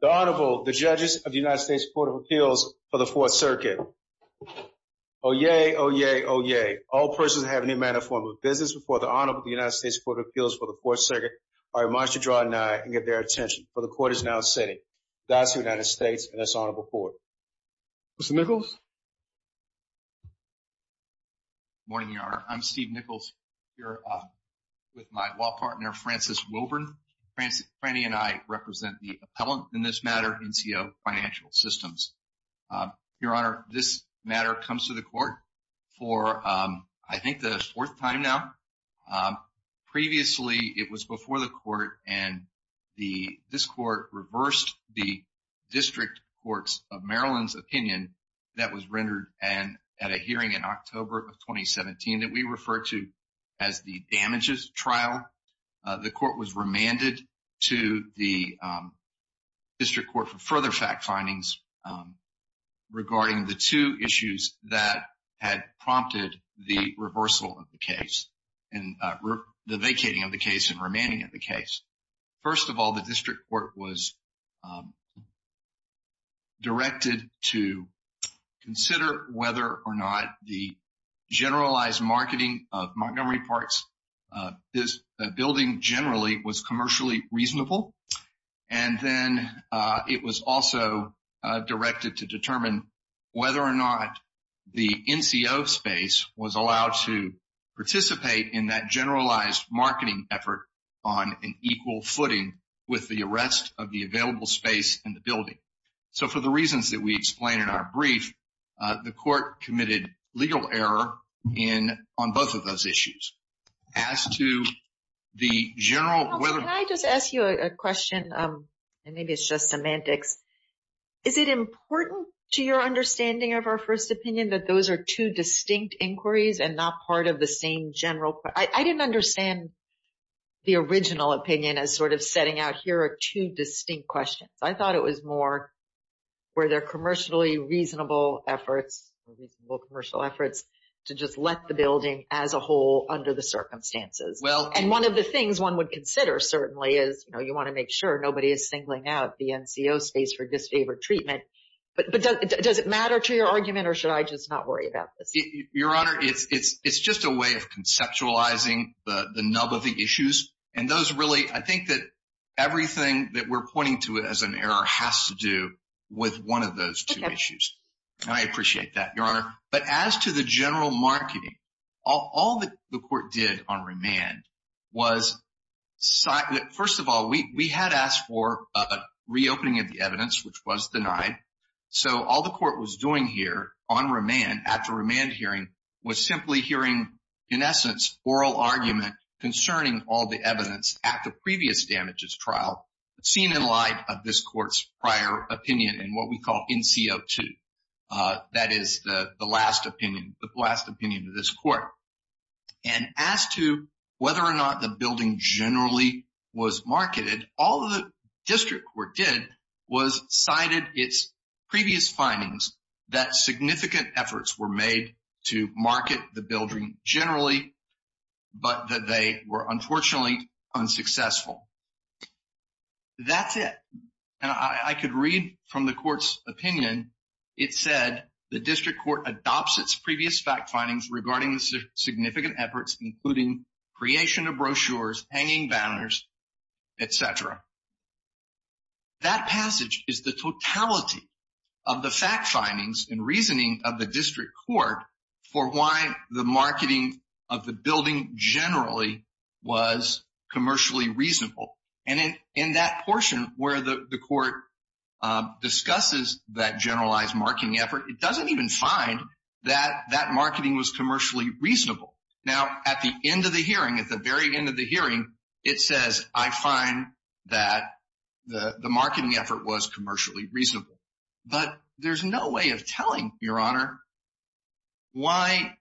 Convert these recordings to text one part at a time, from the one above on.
The Honorable, the Judges of the United States Court of Appeals for the Fourth Circuit. Oyez, oyez, oyez. All persons that have any manner or form of business before the Honorable of the United States Court of Appeals for the Fourth Circuit are admonished to draw an eye and give their attention, for the Court is now sitting. That's the United States, and that's Honorable Ford. Mr. Nichols. Good morning, Your Honor. I'm Steve Nichols here with my law partner, Francis Wilburn. Franny and I represent the appellant in this matter, NCO Financial Systems. Your Honor, this matter comes to the Court for, I think, the fourth time now. Previously, it was before the Court, and this Court reversed the District Courts of Maryland's opinion that was rendered at a hearing in October of 2017 that we refer to as the damages trial. The Court was remanded to the District Court for further fact findings regarding the two issues that had prompted the reversal of the case. The vacating of the case and remanding of the case. First of all, the District Court was directed to consider whether or not the generalized marketing of Montgomery Parks, this building generally, was commercially reasonable. And then it was also directed to determine whether or not the NCO space was allowed to participate in that generalized marketing effort on an equal footing with the arrest of the available space in the building. So, for the reasons that we explain in our brief, the Court committed legal error on both of those issues. As to the general... Can I just ask you a question? And maybe it's just semantics. Is it important to your understanding of our first opinion that those are two distinct inquiries and not part of the same general... I didn't understand the original opinion as sort of setting out here are two distinct questions. I thought it was more where they're commercially reasonable efforts to just let the building as a whole under the circumstances. And one of the things one would consider certainly is you want to make sure nobody is singling out the NCO space for disfavored treatment. But does it matter to your argument or should I just not worry about this? Your Honor, it's just a way of conceptualizing the nub of the issues. And those really... I think that everything that we're pointing to as an error has to do with one of those two issues. And I appreciate that, Your Honor. But as to the general marketing, all the Court did on remand was... First of all, we had asked for a reopening of the evidence, which was denied. So all the Court was doing here on remand after remand hearing was simply hearing, in essence, oral argument concerning all the evidence at the previous damages trial seen in light of this Court's prior opinion and what we call NCO2. That is the last opinion, the last opinion of this Court. And as to whether or not the building generally was marketed, all the District Court did was cited its previous findings that significant efforts were made to market the building generally but that they were unfortunately unsuccessful. That's it. And I could read from the Court's opinion. It said, the District Court adopts its previous fact findings regarding the significant efforts, including creation of brochures, hanging banners, etc. That passage is the totality of the fact findings and reasoning of the District Court for why the marketing of the building generally was commercially reasonable. And in that portion where the Court discusses that generalized marketing effort, it doesn't even find that that marketing was commercially reasonable. Now, at the end of the hearing, at the very end of the hearing, it says, I find that the marketing effort was commercially reasonable. But there's no way of telling, Your Honor, why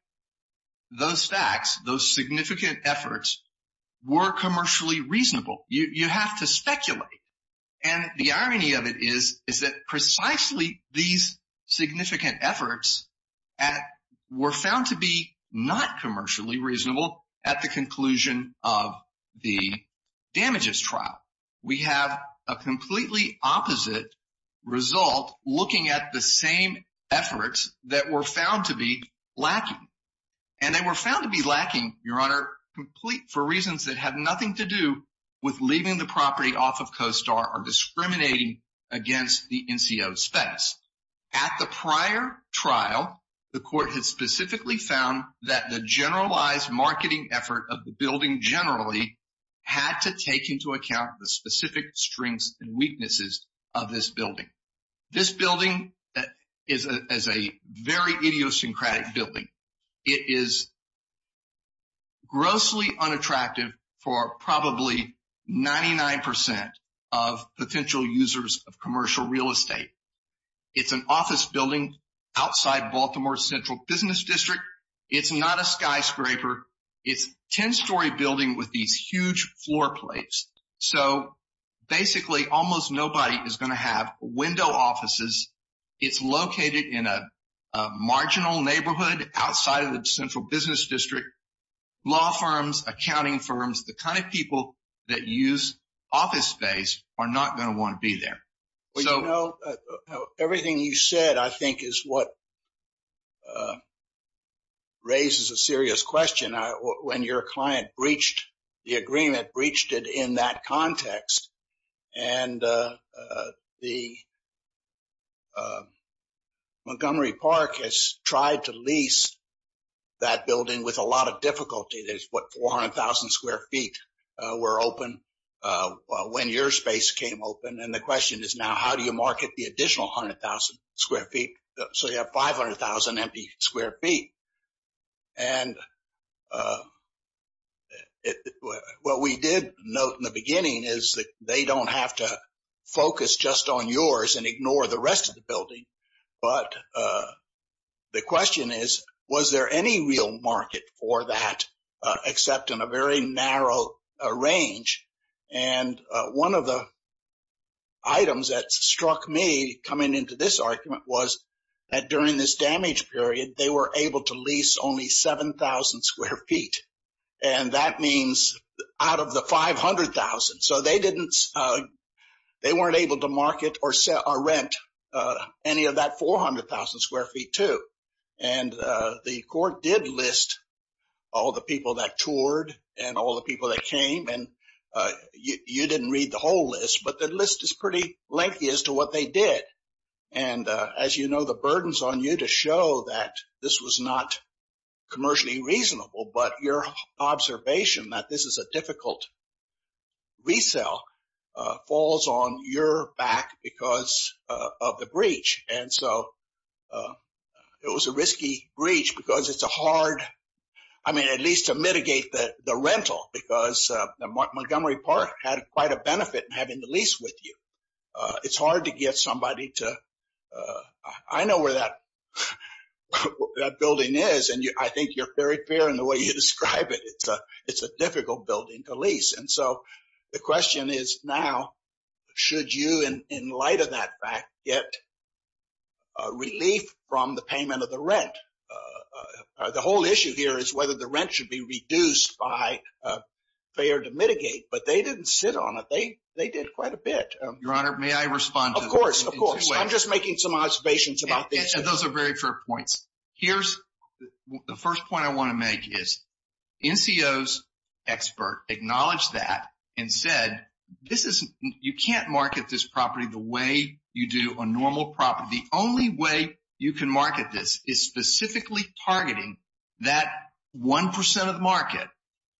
those facts, those significant efforts were commercially reasonable. You have to speculate. And the irony of it is, is that precisely these significant efforts were found to be not commercially reasonable at the conclusion of the damages trial. We have a completely opposite result looking at the same efforts that were found to be lacking. And they were found to be lacking, Your Honor, for reasons that have nothing to do with leaving the property off of CoStar or discriminating against the NCO space. At the prior trial, the Court has specifically found that the generalized marketing effort of the building generally had to take into account the specific strengths and weaknesses of this building. This building is a very idiosyncratic building. It is grossly unattractive for probably 99 percent of potential users of commercial real estate. It's an office building outside Baltimore's Central Business District. It's not a skyscraper. It's a 10-story building with these huge floor plates. So basically, almost nobody is going to have window offices. It's located in a marginal neighborhood outside of the Central Business District. Law firms, accounting firms, the kind of people that use office space are not going to want to be there. Everything you said, I think, is what raises a serious question. When your client breached the agreement, breached it in that context, and the Montgomery Park has tried to lease that building with a lot of difficulty. There's, what, 400,000 square feet were open when your space came open. And the question is now, how do you market the additional 100,000 square feet so you have 500,000 empty square feet? And what we did note in the beginning is that they don't have to focus just on yours and ignore the rest of the building. But the question is, was there any real market for that except in a very narrow range? And one of the items that struck me coming into this argument was that during this damage period, they were able to lease only 7,000 square feet. And that means out of the 500,000. So they weren't able to market or rent any of that 400,000 square feet, too. And the court did list all the people that toured and all the people that came. And you didn't read the whole list, but the list is pretty lengthy as to what they did. And as you know, the burden's on you to show that this was not commercially reasonable. But your observation that this is a difficult resale falls on your back because of the breach. And so it was a risky breach because it's a hard, I mean, at least to mitigate the rental because Montgomery Park had quite a benefit in having the lease with you. It's hard to get somebody to. I know where that building is, and I think you're very clear in the way you describe it. And so the question is now, should you, in light of that fact, get relief from the payment of the rent? The whole issue here is whether the rent should be reduced by a fair to mitigate. But they didn't sit on it. They did quite a bit. Your Honor, may I respond? Of course, of course. I'm just making some observations about this. Those are very fair points. The first point I want to make is NCO's expert acknowledged that and said, you can't market this property the way you do a normal property. The only way you can market this is specifically targeting that 1% of the market.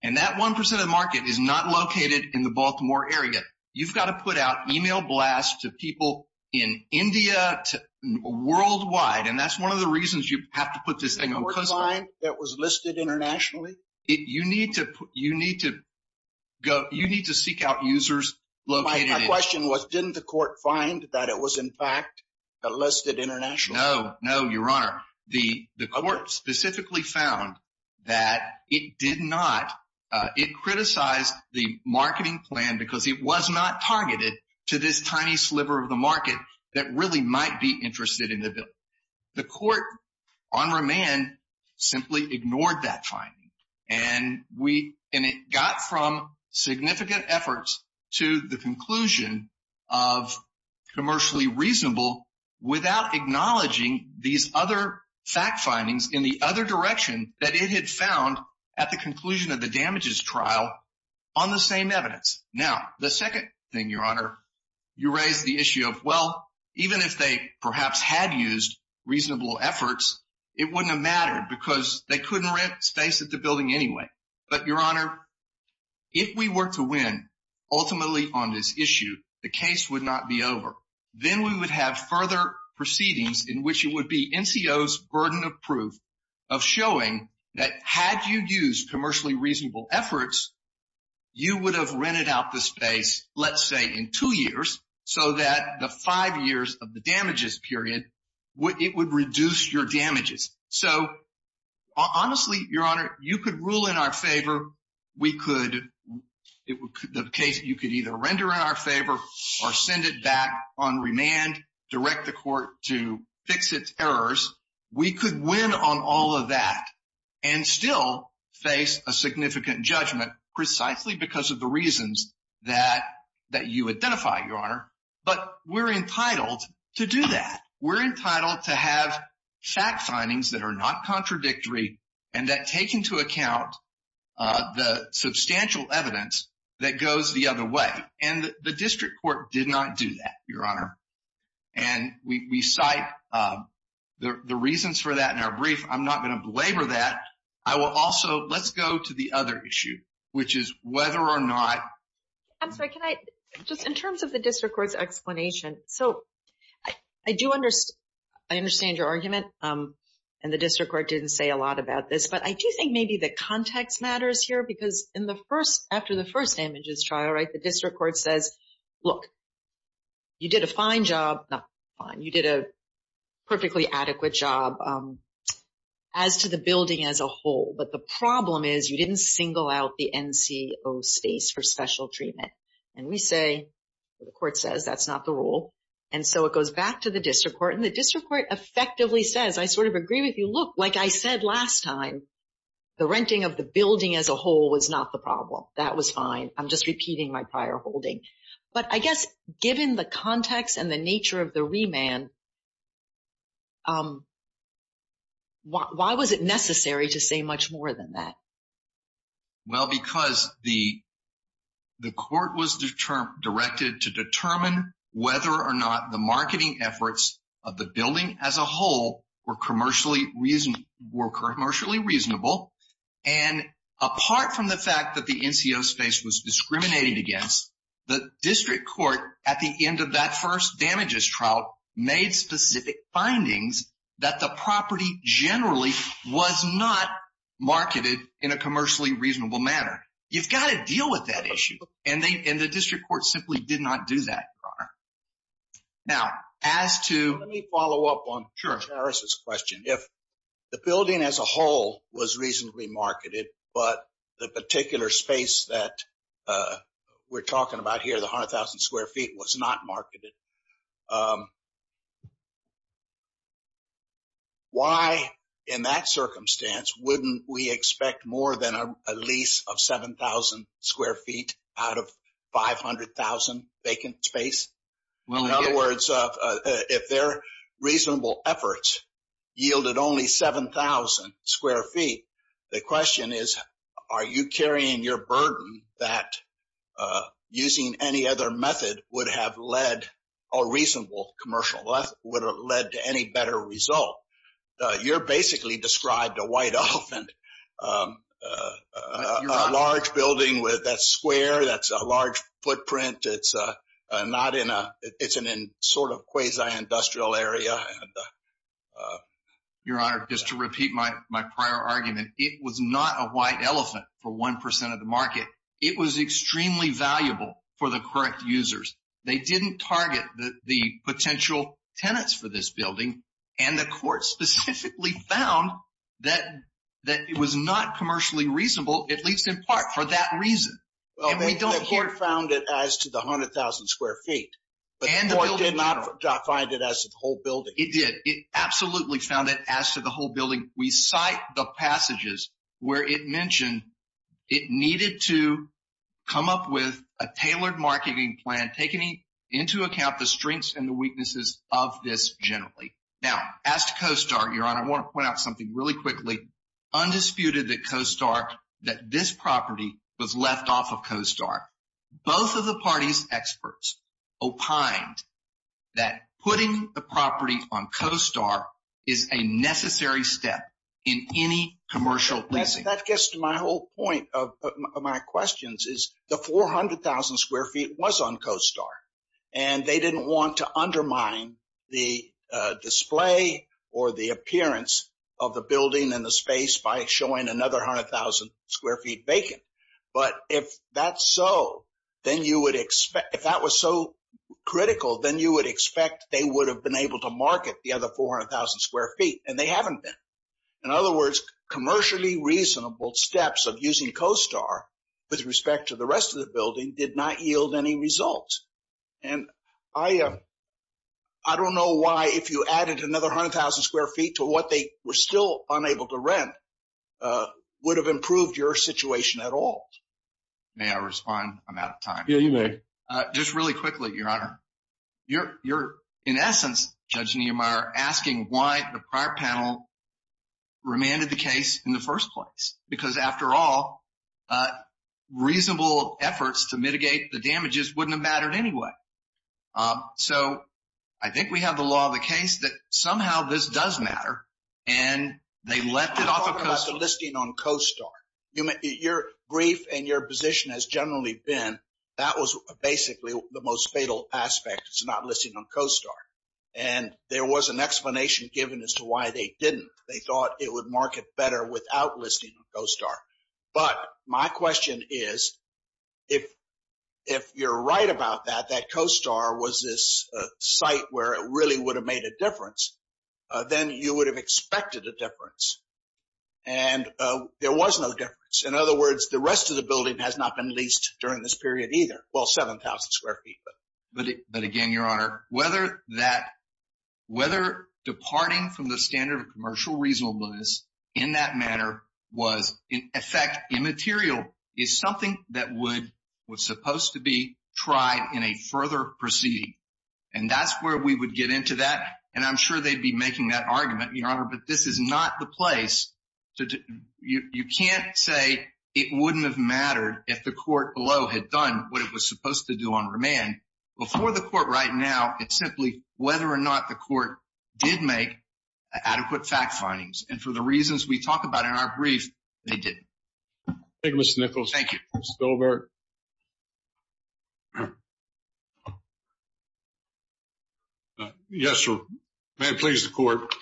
And that 1% of the market is not located in the Baltimore area. You've got to put out email blasts to people in India, to worldwide. And that's one of the reasons you have to put this thing on customer. Didn't the court find that it was listed internationally? You need to seek out users located in India. My question was, didn't the court find that it was, in fact, listed internationally? No, no, Your Honor. The court specifically found that it did not, it criticized the marketing plan because it was not targeted to this tiny sliver of the market that really might be interested in the bill. The court, on remand, simply ignored that finding. And it got from significant efforts to the conclusion of commercially reasonable without acknowledging these other fact findings in the other direction that it had found at the conclusion of the damages trial on the same evidence. Now, the second thing, Your Honor, you raise the issue of, well, even if they perhaps had used reasonable efforts, it wouldn't have mattered because they couldn't rent space at the building anyway. But, Your Honor, if we were to win ultimately on this issue, the case would not be over. Then we would have further proceedings in which it would be NCO's burden of proof of showing that had you used commercially reasonable efforts, you would have rented out the space, let's say, in two years so that the five years of the damages period, it would reduce your damages. So, honestly, Your Honor, you could rule in our favor. We could, the case, you could either render in our favor or send it back on remand, direct the court to fix its errors. We could win on all of that and still face a significant judgment precisely because of the reasons that you identify, Your Honor. But we're entitled to do that. We're entitled to have fact findings that are not contradictory and that take into account the substantial evidence that goes the other way. And the district court did not do that, Your Honor. And we cite the reasons for that in our brief. I'm not going to belabor that. I will also, let's go to the other issue, which is whether or not. I'm sorry. Can I just, in terms of the district court's explanation. So, I do understand your argument. And the district court didn't say a lot about this. But I do think maybe the context matters here because in the first, after the first damages trial, right, the district court says, look, you did a fine job. You did a perfectly adequate job as to the building as a whole. But the problem is you didn't single out the NCO space for special treatment. And we say, the court says, that's not the rule. And so it goes back to the district court. And the district court effectively says, I sort of agree with you. Look, like I said last time, the renting of the building as a whole was not the problem. That was fine. I'm just repeating my prior holding. But I guess given the context and the nature of the remand, why was it necessary to say much more than that? Well, because the court was directed to determine whether or not the marketing efforts of the building as a whole were commercially reasonable. And apart from the fact that the NCO space was discriminated against, the district court at the end of that first damages trial made specific findings that the property generally was not marketed in a commercially reasonable manner. You've got to deal with that issue. And the district court simply did not do that, Your Honor. Now, as to- Let me follow up on Harris's question. If the building as a whole was reasonably marketed, but the particular space that we're talking about here, the 100,000 square feet, was not marketed. Why, in that circumstance, wouldn't we expect more than a lease of 7,000 square feet out of 500,000 vacant space? In other words, if their reasonable efforts yielded only 7,000 square feet, the question is, are you carrying your burden that using any other method would have led- a reasonable commercial method- would have led to any better result? You're basically described a white elephant. A large building that's square, that's a large footprint, it's not in a- it's in a sort of quasi-industrial area. Your Honor, just to repeat my prior argument, it was not a white elephant for 1% of the market. It was extremely valuable for the correct users. They didn't target the potential tenants for this building, and the court specifically found that it was not commercially reasonable, at least in part, for that reason. And we don't hear- Well, the court found it as to the 100,000 square feet, but the court did not find it as to the whole building. It did. It absolutely found it as to the whole building. We cite the passages where it mentioned it needed to come up with a tailored marketing plan taking into account the strengths and the weaknesses of this generally. Now, as to CoStar, Your Honor, I want to point out something really quickly. Undisputed that CoStar- that this property was left off of CoStar. Both of the party's experts opined that putting the property on CoStar is a necessary step in any commercial leasing. That gets to my whole point of my questions, is the 400,000 square feet was on CoStar. And they didn't want to undermine the display or the appearance of the building and the space by showing another 100,000 square feet vacant. But if that's so, then you would expect- if that was so critical, then you would expect they would have been able to market the other 400,000 square feet. And they haven't been. In other words, commercially reasonable steps of using CoStar with respect to the rest of the building did not yield any results. And I don't know why if you added another 100,000 square feet to what they were still unable to rent would have improved your situation at all. May I respond? I'm out of time. Yeah, you may. Just really quickly, Your Honor. You're in essence, Judge Niemeyer, asking why the prior panel remanded the case in the first place. Because after all, reasonable efforts to mitigate the damages wouldn't have mattered anyway. So I think we have the law of the case that somehow this does matter. And they left it off of CoStar. Your brief and your position has generally been that was basically the most fatal aspect. It's not listing on CoStar. And there was an explanation given as to why they didn't. They thought it would market better without listing on CoStar. But my question is, if you're right about that, that CoStar was this site where it really would have made a difference, then you would have expected a difference. And there was no difference. In other words, the rest of the building has not been leased during this period either. Well, 7,000 square feet. But again, Your Honor, whether departing from the standard of commercial reasonableness in that matter was in effect immaterial is something that was supposed to be tried in a further proceeding. And that's where we would get into that. But this is not the place. You can't say it wouldn't have mattered if the court below had done what it was supposed to do on remand. Before the court right now, it's simply whether or not the court did make adequate fact findings. And for the reasons we talk about in our brief, they didn't. Thank you, Mr. Nichols. Thank you. Mr. Stover? Yes, Your Honor. May it please the court.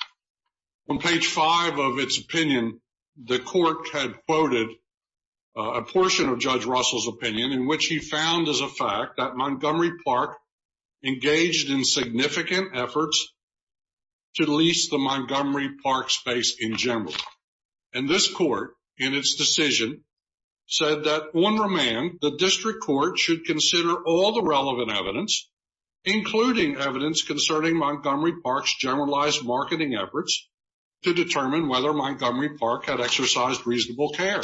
On page five of its opinion, the court had quoted a portion of Judge Russell's opinion in which he found as a fact that Montgomery Park engaged in significant efforts to lease the Montgomery Park space in general. And this court, in its decision, said that on remand, the district court should consider all the relevant evidence, including evidence concerning Montgomery Park's generalized marketing efforts to determine whether Montgomery Park had exercised reasonable care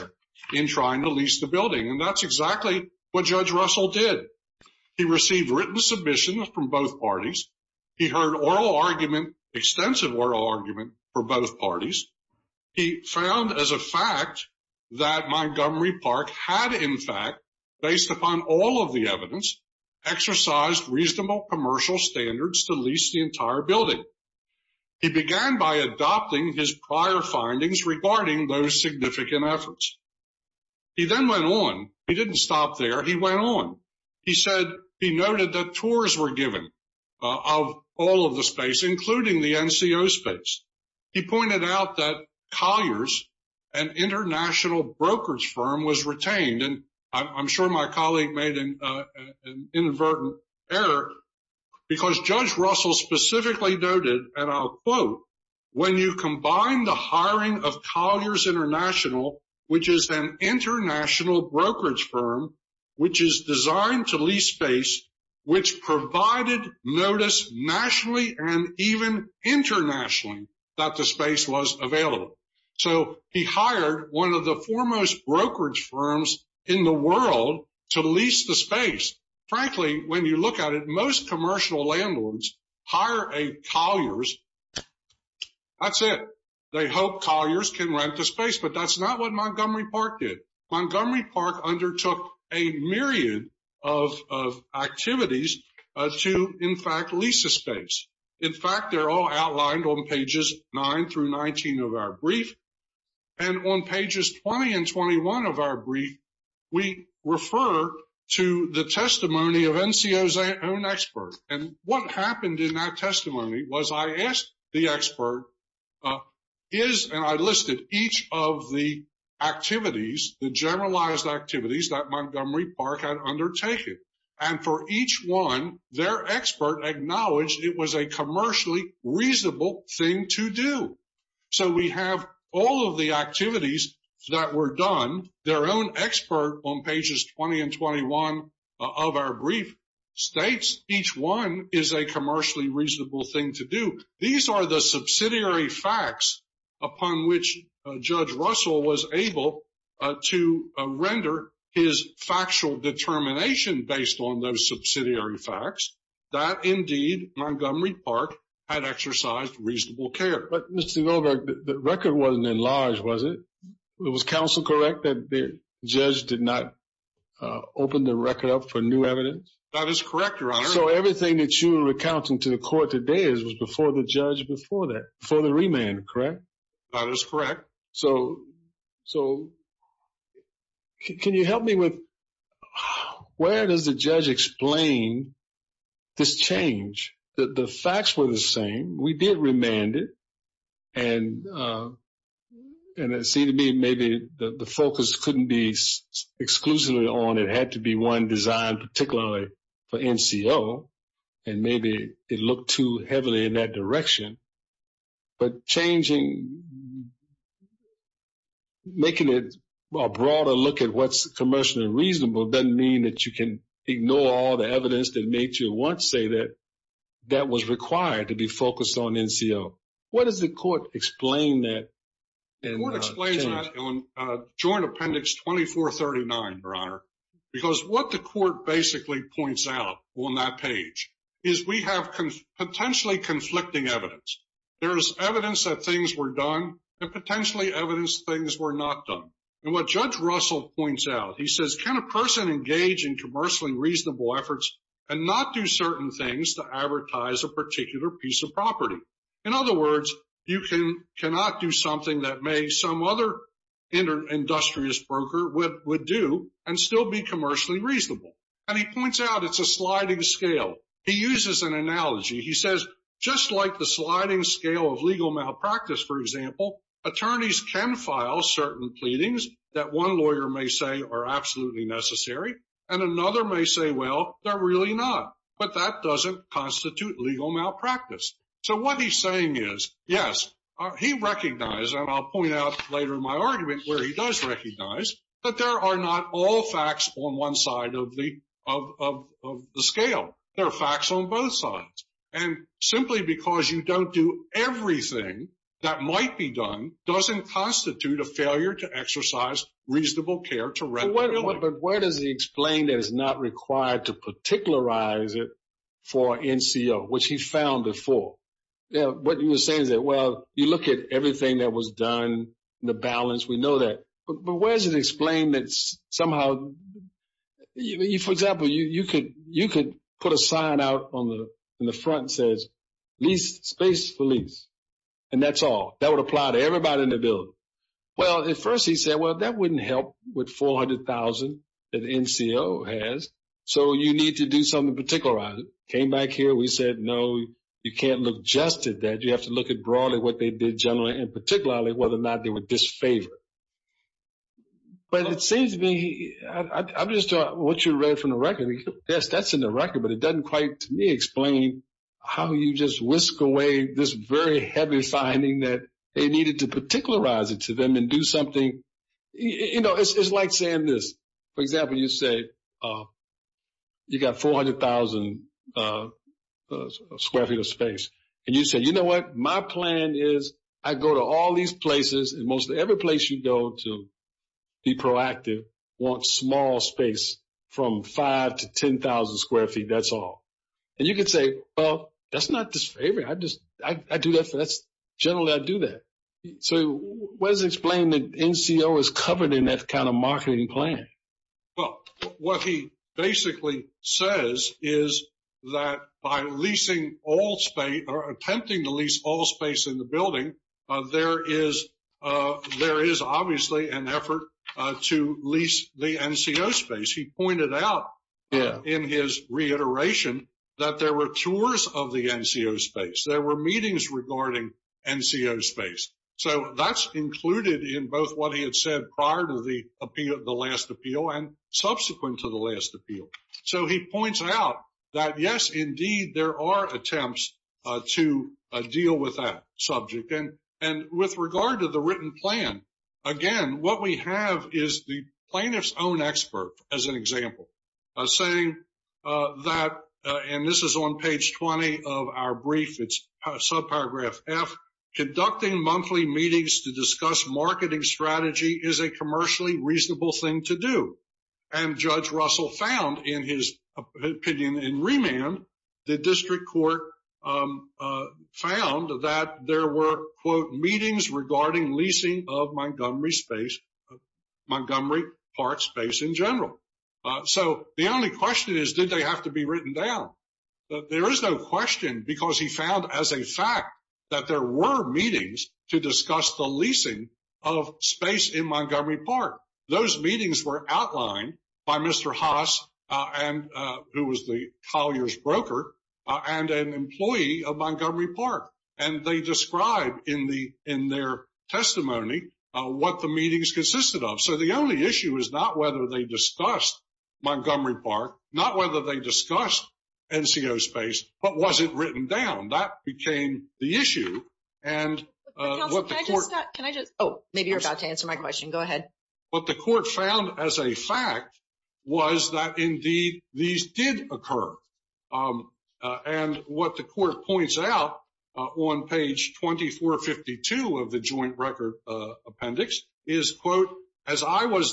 in trying to lease the building. And that's exactly what Judge Russell did. He received written submissions from both parties. He heard oral argument, extensive oral argument, from both parties. He found as a fact that Montgomery Park had, in fact, based upon all of the evidence, exercised reasonable commercial standards to lease the entire building. He began by adopting his prior findings regarding those significant efforts. He then went on. He didn't stop there. He went on. He said he noted that tours were given of all of the space, including the NCO space. He pointed out that Collier's, an international brokerage firm, was retained. And I'm sure my colleague made an inadvertent error because Judge Russell specifically noted, and I'll quote, when you combine the hiring of Collier's International, which is an international brokerage firm, which is designed to lease space, which provided notice nationally and even internationally that the space was available. So he hired one of the foremost brokerage firms in the world to lease the space. Frankly, when you look at it, most commercial landlords hire a Collier's. That's it. They hope Collier's can rent the space. But that's not what Montgomery Park did. Montgomery Park undertook a myriad of activities to, in fact, lease the space. In fact, they're all outlined on pages 9 through 19 of our brief. And on pages 20 and 21 of our brief, we refer to the testimony of NCO's own expert. And what happened in that testimony was I asked the expert, is, and I listed each of the activities, the generalized activities that Montgomery Park had undertaken. And for each one, their expert acknowledged it was a commercially reasonable thing to do. So we have all of the activities that were done. Their own expert on pages 20 and 21 of our brief states each one is a commercially reasonable thing to do. These are the subsidiary facts upon which Judge Russell was able to render his factual determination based on those subsidiary facts that, indeed, Montgomery Park had exercised reasonable care. But, Mr. Goldberg, the record wasn't enlarged, was it? Was counsel correct that the judge did not open the record up for new evidence? That is correct, Your Honor. So everything that you're recounting to the court today was before the judge before that, before the remand, correct? That is correct. So can you help me with where does the judge explain this change? The facts were the same. We did remand it. And it seemed to me maybe the focus couldn't be exclusively on it had to be one designed particularly for NCO. And maybe it looked too heavily in that direction. But changing, making it a broader look at what's commercially reasonable doesn't mean that you can ignore all the evidence that made you want to say that that was required to be focused on NCO. What does the court explain that? The court explains that on Joint Appendix 2439, Your Honor, because what the court basically points out on that page is we have potentially conflicting evidence. There is evidence that things were done and potentially evidence things were not done. And what Judge Russell points out, he says, can a person engage in commercially reasonable efforts and not do certain things to advertise a particular piece of property? In other words, you cannot do something that may some other industrious broker would do and still be commercially reasonable. And he points out it's a sliding scale. He uses an analogy. He says just like the sliding scale of legal malpractice, for example, attorneys can file certain pleadings that one lawyer may say are absolutely necessary and another may say, well, they're really not. But that doesn't constitute legal malpractice. So what he's saying is, yes, he recognized, and I'll point out later in my argument where he does recognize, that there are not all facts on one side of the scale. There are facts on both sides. And simply because you don't do everything that might be done doesn't constitute a failure to exercise reasonable care to record a point. But where does he explain that it's not required to particularize it for NCO, which he found before? What he was saying is that, well, you look at everything that was done, the balance, we know that. But where does it explain that somehow, for example, you could put a sign out on the front that says lease space for lease, and that's all. That would apply to everybody in the building. Well, at first he said, well, that wouldn't help with 400,000 that NCO has. So you need to do something to particularize it. Came back here, we said, no, you can't look just at that. You have to look at broadly what they did generally and particularly whether or not they were disfavored. But it seems to me, I'm just talking about what you read from the record. Yes, that's in the record, but it doesn't quite to me explain how you just whisk away this very heavy finding that they needed to particularize it to them and do something. You know, it's like saying this, for example, you say you got 400,000 square feet of space. And you say, you know what, my plan is I go to all these places, and mostly every place you go to be proactive, want small space from 5,000 to 10,000 square feet, that's all. And you could say, well, that's not disfavored. I do that, generally I do that. So where does it explain that NCO is covered in that kind of marketing plan? Well, what he basically says is that by leasing all space or attempting to lease all space in the building, there is obviously an effort to lease the NCO space. He pointed out in his reiteration that there were tours of the NCO space. There were meetings regarding NCO space. So that's included in both what he had said prior to the last appeal and subsequent to the last appeal. So he points out that, yes, indeed, there are attempts to deal with that subject. And with regard to the written plan, again, what we have is the plaintiff's own expert, as an example, saying that, and this is on page 20 of our brief, it's subparagraph F, conducting monthly meetings to discuss marketing strategy is a commercially reasonable thing to do. And Judge Russell found in his opinion in remand, the district court found that there were, quote, meetings regarding leasing of Montgomery Park space in general. So the only question is, did they have to be written down? There is no question because he found as a fact that there were meetings to discuss the leasing of space in Montgomery Park. Those meetings were outlined by Mr. Haas, who was the Collier's broker, and an employee of Montgomery Park. And they described in their testimony what the meetings consisted of. So the only issue is not whether they discussed Montgomery Park, not whether they discussed NCO space, but was it written down? That became the issue. And what the court- Can I just- Oh, maybe you're about to answer my question. Go ahead. What the court found as a fact was that, indeed, these did occur. And what the court points out on page 2452 of the joint record appendix is, quote, So what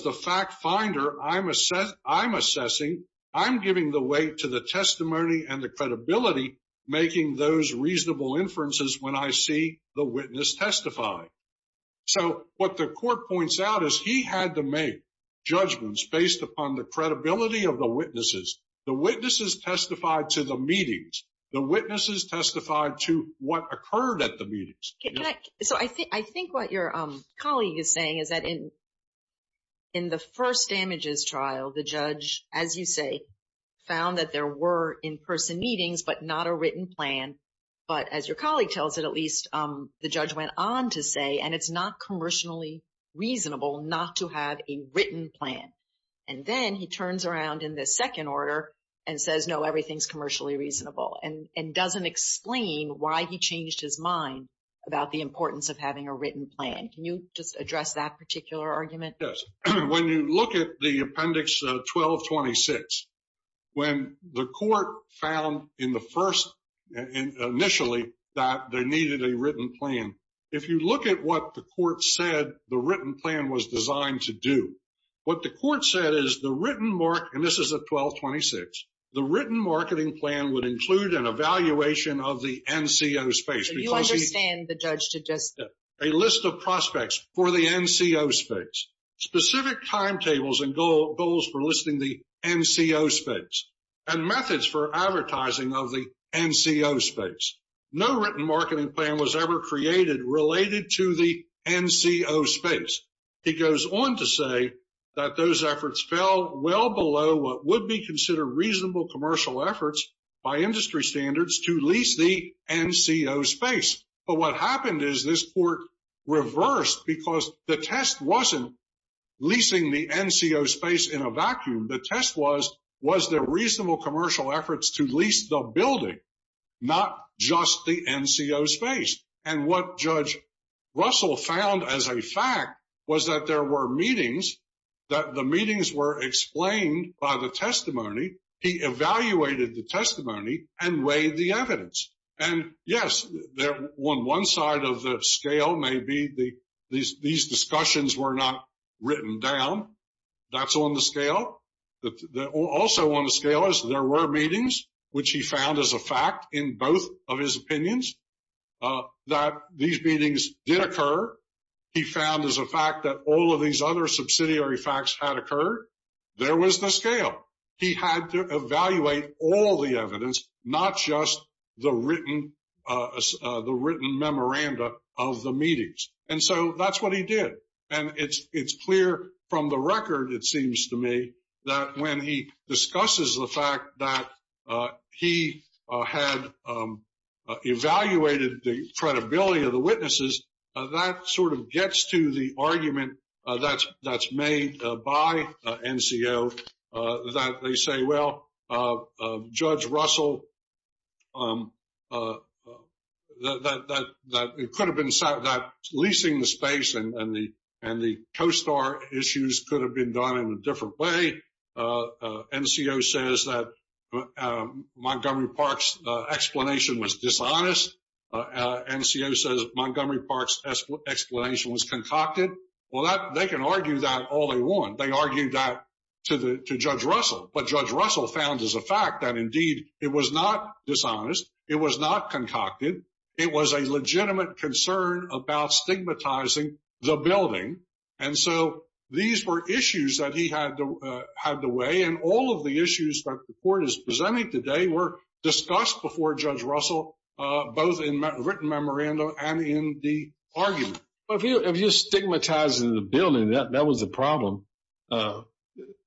the court points out is he had to make judgments based upon the credibility of the witnesses. The witnesses testified to the meetings. The witnesses testified to what occurred at the meetings. Can I- So I think what your colleague is saying is that in the first damages trial, the judge, as you say, found that there were in-person meetings, but not a written plan. But as your colleague tells it, at least the judge went on to say, and it's not commercially reasonable not to have a written plan. And then he turns around in the second order and says, no, everything's commercially reasonable and doesn't explain why he changed his mind about the importance of having a written plan. Can you just address that particular argument? Yes. When you look at the appendix 1226, when the court found in the first- initially that they needed a written plan, if you look at what the court said the written plan was designed to do, what the court said is the written mark- and this is at 1226- the written marketing plan would include an evaluation of the NCO space. So you understand the judge to just- A list of prospects for the NCO space. Specific timetables and goals for listing the NCO space. And methods for advertising of the NCO space. No written marketing plan was ever created related to the NCO space. He goes on to say that those efforts fell well below what would be considered reasonable commercial efforts by industry standards to lease the NCO space. But what happened is this court reversed because the test wasn't leasing the NCO space in a vacuum. The test was, was there reasonable commercial efforts to lease the building, not just the NCO space? And what Judge Russell found as a fact was that there were meetings, that the meetings were explained by the testimony. He evaluated the testimony and weighed the evidence. And yes, on one side of the scale may be these discussions were not written down. That's on the scale. Also on the scale is there were meetings, which he found as a fact in both of his opinions, that these meetings did occur. He found as a fact that all of these other subsidiary facts had occurred. There was the scale. He had to evaluate all the evidence, not just the written, the written memoranda of the meetings. And so that's what he did. And it's clear from the record, it seems to me, that when he discusses the fact that he had evaluated the credibility of the witnesses, that sort of gets to the argument that's made by NCO, that they say, well, Judge Russell, that it could have been that leasing the space and the CoSTAR issues could have been done in a different way. NCO says that Montgomery Park's explanation was dishonest. NCO says Montgomery Park's explanation was concocted. Well, they can argue that all they want. They argued that to Judge Russell. But Judge Russell found as a fact that, indeed, it was not dishonest. It was not concocted. It was a legitimate concern about stigmatizing the building. And so these were issues that he had to weigh. And all of the issues that the court is presenting today were discussed before Judge Russell, both in written memoranda and in the argument. If you're stigmatizing the building, that was the problem.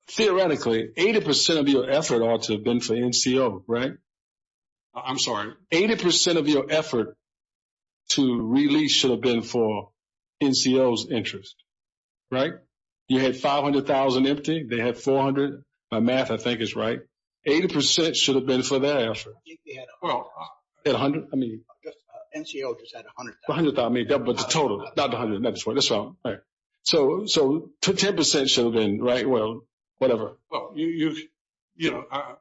Theoretically, 80% of your effort ought to have been for NCO, right? I'm sorry? 80% of your effort to release should have been for NCO's interest, right? You had 500,000 empty. They had 400,000. My math, I think, is right. 80% should have been for their effort. I think they had 100,000. They had 100,000? NCO just had 100,000. 100,000, but the total, not the 100,000. That's wrong. So 10% should have been, right? Well, whatever. Well,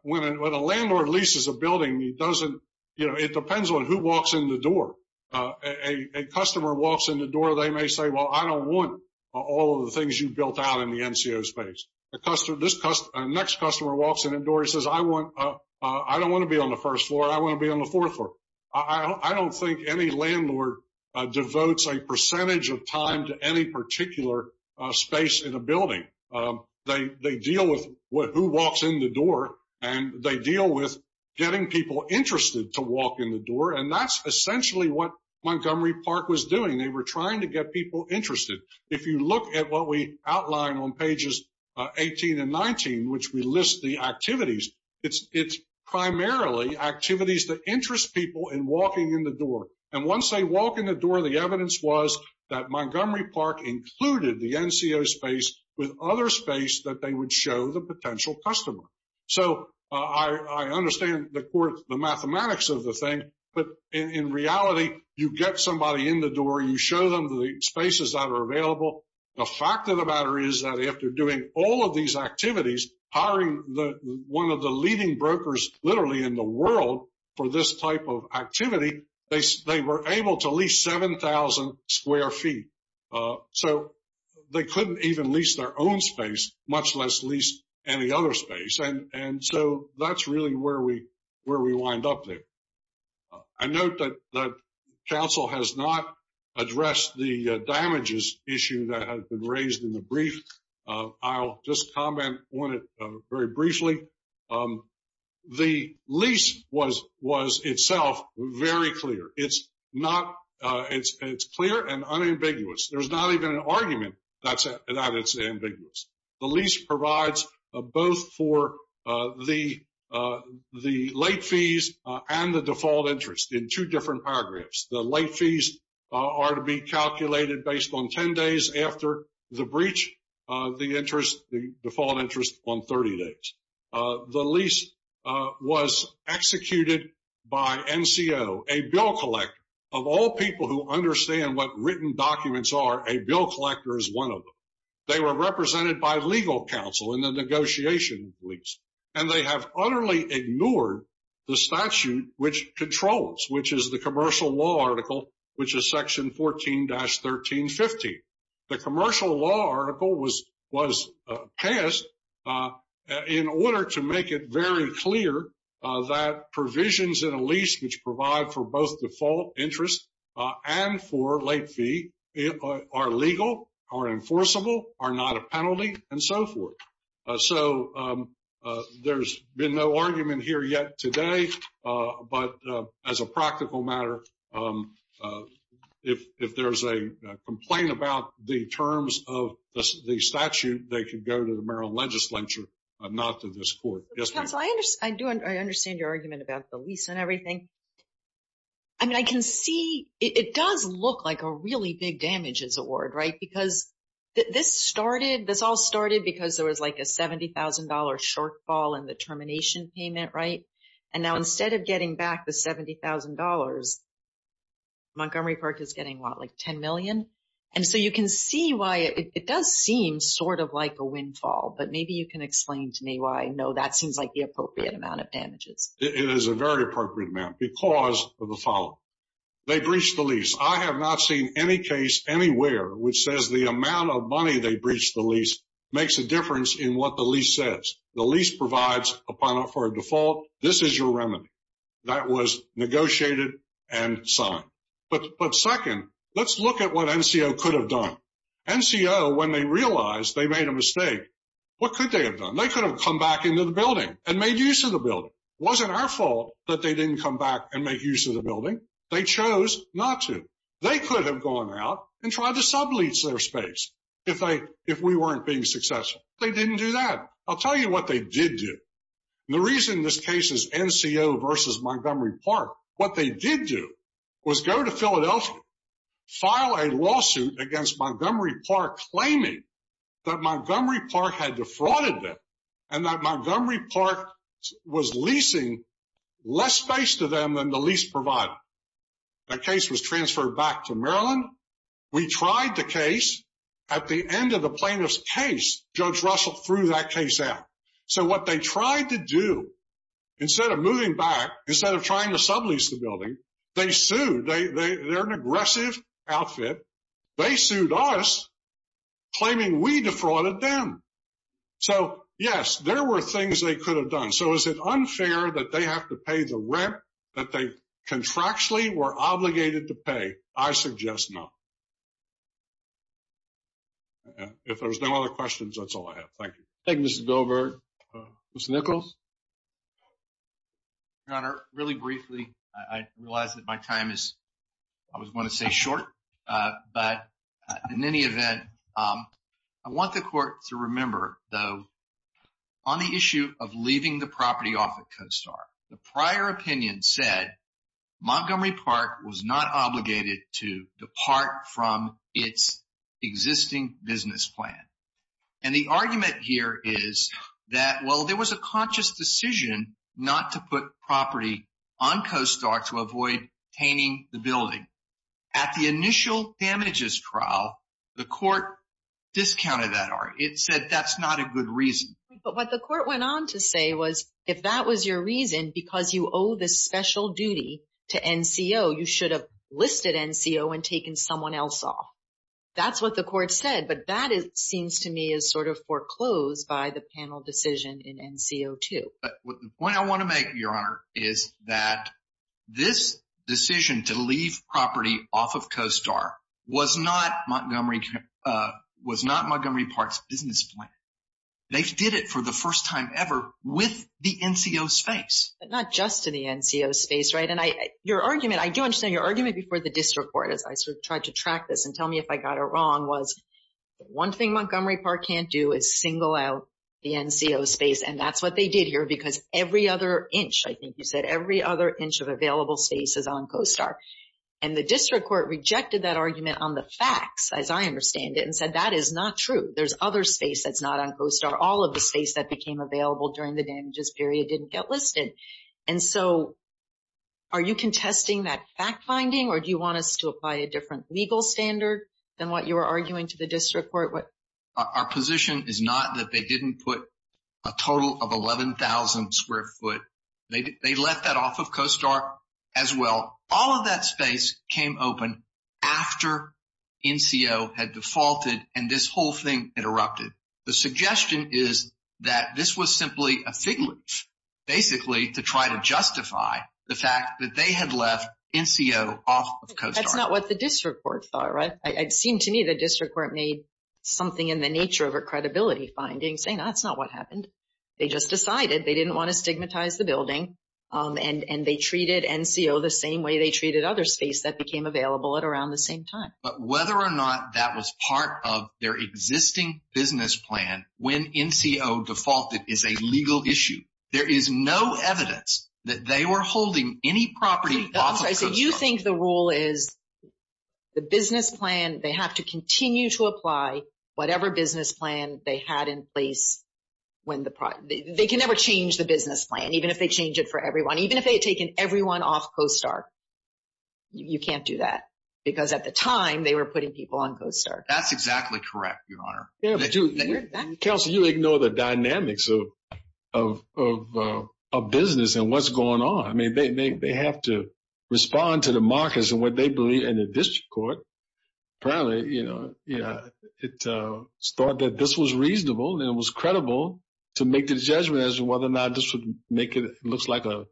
when a landlord leases a building, it depends on who walks in the door. A customer walks in the door, they may say, well, I don't want all of the things you've built out in the NCO space. The next customer walks in the door, he says, I don't want to be on the first floor. I want to be on the fourth floor. I don't think any landlord devotes a percentage of time to any particular space in a building. They deal with who walks in the door, and they deal with getting people interested to walk in the door. And that's essentially what Montgomery Park was doing. They were trying to get people interested. If you look at what we outline on pages 18 and 19, which we list the activities, it's primarily activities that interest people in walking in the door. And once they walk in the door, the evidence was that Montgomery Park included the NCO space with other space that they would show the potential customer. So I understand the mathematics of the thing, but in reality, you get somebody in the door, you show them the spaces that are available. The fact of the matter is that after doing all of these activities, hiring one of the leading brokers literally in the world for this type of activity, they were able to lease 7,000 square feet. So they couldn't even lease their own space, much less lease any other space. And so that's really where we wind up there. I note that council has not addressed the damages issue that has been raised in the brief. I'll just comment on it very briefly. The lease was itself very clear. It's clear and unambiguous. There's not even an argument that it's ambiguous. The lease provides both for the late fees and the default interest in two different paragraphs. The late fees are to be calculated based on 10 days after the breach, the default interest on 30 days. The lease was executed by NCO, a bill collector. Of all people who understand what written documents are, a bill collector is one of them. They were represented by legal counsel in the negotiation lease, and they have utterly ignored the statute which controls, which is the commercial law article, which is section 14-1315. The commercial law article was passed in order to make it very clear that provisions in a lease which provide for both default interest and for late fee are legal, are enforceable, are not a penalty, and so forth. So there's been no argument here yet today. But as a practical matter, if there's a complaint about the terms of the statute, they can go to the mayoral legislature, not to this court. Yes, ma'am. I understand your argument about the lease and everything. I mean, I can see it does look like a really big damages award, right? Because this all started because there was like a $70,000 shortfall in the termination payment, right? And now instead of getting back the $70,000, Montgomery Park is getting what, like $10 million? And so you can see why it does seem sort of like a windfall. But maybe you can explain to me why I know that seems like the appropriate amount of damages. It is a very appropriate amount because of the following. They breached the lease. I have not seen any case anywhere which says the amount of money they breached the lease makes a difference in what the lease says. The lease provides for a default. This is your remedy. That was negotiated and signed. But second, let's look at what NCO could have done. NCO, when they realized they made a mistake, what could they have done? They could have come back into the building and made use of the building. It wasn't our fault that they didn't come back and make use of the building. They chose not to. They could have gone out and tried to sublease their space if we weren't being successful. They didn't do that. I'll tell you what they did do. The reason this case is NCO versus Montgomery Park, what they did do was go to Philadelphia, file a lawsuit against Montgomery Park claiming that Montgomery Park had defrauded them and that Montgomery Park was leasing less space to them than the lease provided. That case was transferred back to Maryland. We tried the case. At the end of the plaintiff's case, Judge Russell threw that case out. So what they tried to do, instead of moving back, instead of trying to sublease the building, they sued. They're an aggressive outfit. They sued us claiming we defrauded them. So, yes, there were things they could have done. So is it unfair that they have to pay the rent that they contractually were obligated to pay? I suggest no. If there's no other questions, that's all I have. Thank you. Thank you, Mr. Goldberg. Mr. Nichols? Your Honor, really briefly, I realize that my time is, I always want to say, short. But in any event, I want the court to remember, though, on the issue of leaving the property off at CoStar, the prior opinion said Montgomery Park was not obligated to depart from its existing business plan. And the argument here is that, well, there was a conscious decision not to put property on CoStar to avoid tainting the building. At the initial damages trial, the court discounted that argument. It said that's not a good reason. But what the court went on to say was, if that was your reason, because you owe the special duty to NCO, you should have listed NCO and taken someone else off. That's what the court said. But that seems to me is sort of foreclosed by the panel decision in NCO2. The point I want to make, Your Honor, is that this decision to leave property off of CoStar was not Montgomery Park's business plan. They did it for the first time ever with the NCO space. But not just to the NCO space, right? And your argument, I do understand your argument before the district court, as I sort of tried to track this and tell me if I got it wrong, was the one thing Montgomery Park can't do is single out the NCO space. And that's what they did here because every other inch, I think you said, every other inch of available space is on CoStar. And the district court rejected that argument on the facts, as I understand it, and said that is not true. There's other space that's not on CoStar. All of the space that became available during the damages period didn't get listed. And so are you contesting that fact-finding or do you want us to apply a different legal standard than what you were arguing to the district court? Our position is not that they didn't put a total of 11,000 square foot. They left that off of CoStar as well. All of that space came open after NCO had defaulted and this whole thing interrupted. The suggestion is that this was simply a fig leaf, basically, to try to justify the fact that they had left NCO off of CoStar. That's not what the district court thought, right? It seemed to me the district court made something in the nature of a credibility finding saying that's not what happened. They just decided. They didn't want to stigmatize the building. And they treated NCO the same way they treated other space that became available at around the same time. But whether or not that was part of their existing business plan when NCO defaulted is a legal issue. There is no evidence that they were holding any property off of CoStar. Do you think the rule is the business plan, they have to continue to apply whatever business plan they had in place? They can never change the business plan, even if they change it for everyone. Even if they had taken everyone off CoStar, you can't do that. Because at the time, they were putting people on CoStar. That's exactly correct, Your Honor. Counsel, you ignore the dynamics of business and what's going on. I mean, they have to respond to the markets and what they believe in the district court. Apparently, you know, it's thought that this was reasonable and it was credible to make the judgment as to whether or not this would make it looks like an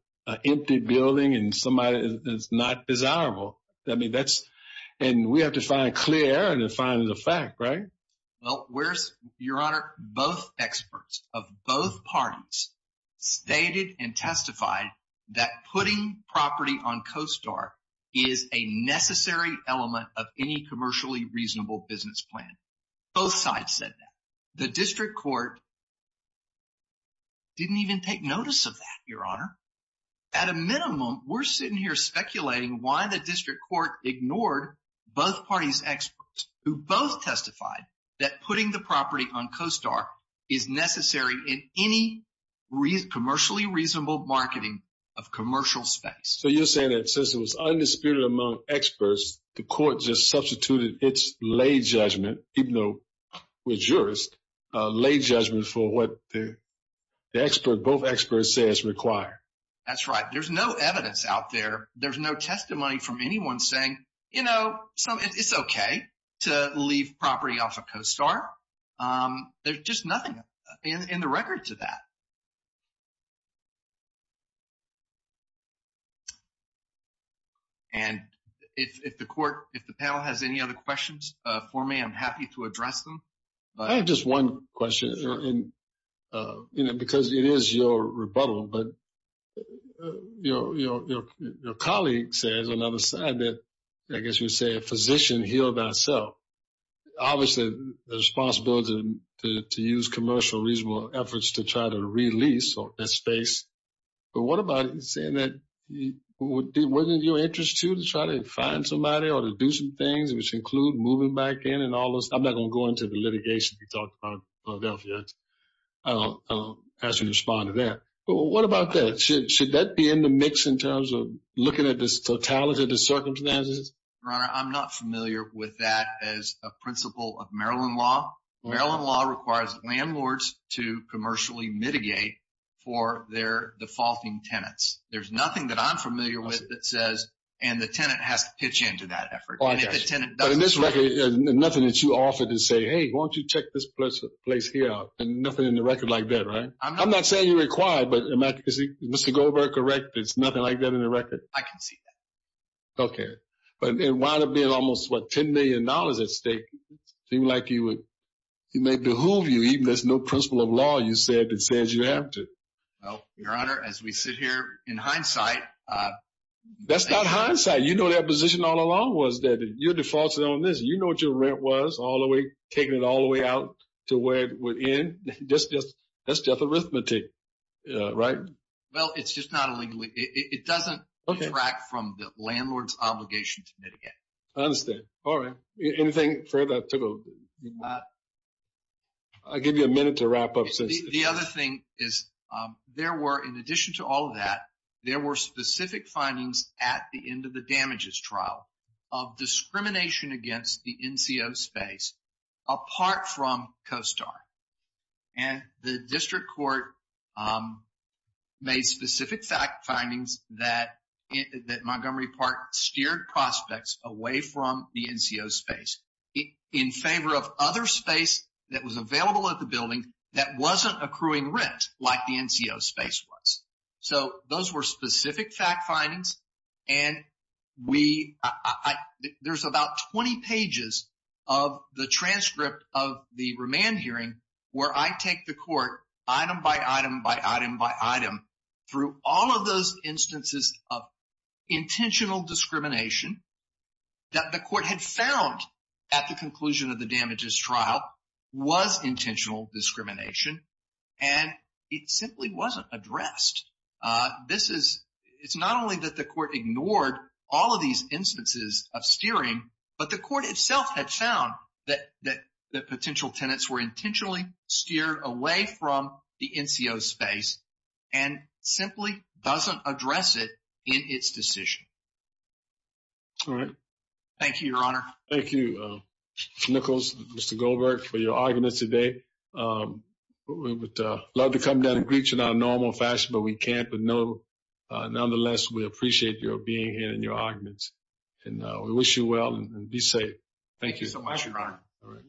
empty building and somebody is not desirable. I mean, that's and we have to find clear and find the fact, right? Well, we're, Your Honor, both experts of both parties stated and testified that putting property on CoStar is a necessary element of any commercially reasonable business plan. Both sides said that. The district court didn't even take notice of that, Your Honor. At a minimum, we're sitting here speculating why the district court ignored both parties experts who both testified that putting the property on CoStar is necessary in any commercially reasonable marketing of commercial space. So you're saying that since it was undisputed among experts, the court just substituted its lay judgment, even though we're jurists, lay judgment for what the expert, both experts say is required. That's right. There's no evidence out there. There's no testimony from anyone saying, you know, it's okay to leave property off of CoStar. There's just nothing in the record to that. And if the court, if the panel has any other questions for me, I'm happy to address them. I have just one question. And, you know, because it is your rebuttal, but, you know, your colleague says on the other side that, I guess you would say a physician healed thyself. Obviously, the responsibility to use commercial reasonable efforts to try to release that space. But what about saying that wasn't your interest to try to find somebody or to do some things, which include moving back in and all those? I'm not going to go into the litigation we talked about as we respond to that. But what about that? Should that be in the mix in terms of looking at this totality of the circumstances? Your Honor, I'm not familiar with that as a principle of Maryland law. Maryland law requires landlords to commercially mitigate for their defaulting tenants. There's nothing that I'm familiar with that says, and the tenant has to pitch in to that effort. But in this record, there's nothing that you offered to say, hey, why don't you check this place here? And nothing in the record like that, right? I'm not saying you're required, but is Mr. Goldberg correct? There's nothing like that in the record? I can see that. Okay. But it wound up being almost, what, $10 million at stake. It seemed like he may behoove you even if there's no principle of law you said that says you have to. Well, Your Honor, as we sit here in hindsight. That's not hindsight. Yeah, you know that position all along was that you're defaulting on this. You know what your rent was all the way, taking it all the way out to where it would end. That's just arithmetic, right? Well, it's just not a legal, it doesn't detract from the landlord's obligation to mitigate. I understand. All right. Anything further to go? I'll give you a minute to wrap up. The other thing is there were, in addition to all of that, there were specific findings at the end of the damages trial of discrimination against the NCO space apart from CoStar. And the district court made specific fact findings that Montgomery Park steered prospects away from the NCO space in favor of other space that was available at the building that wasn't accruing rent like the NCO space was. So those were specific fact findings. And there's about 20 pages of the transcript of the remand hearing where I take the court item by item by item by item through all of those instances of intentional discrimination that the court had found at the conclusion of the damages trial was intentional discrimination. And it simply wasn't addressed. This is, it's not only that the court ignored all of these instances of steering, but the court itself had found that potential tenants were intentionally steered away from the NCO space and simply doesn't address it in its decision. All right. Thank you, Your Honor. Thank you, Mr. Nichols, Mr. Goldberg, for your argument today. We would love to come down and greet you in our normal fashion, but we can't, but nonetheless, we appreciate your being here and your arguments. And we wish you well and be safe. Thank you so much, Your Honor. All right.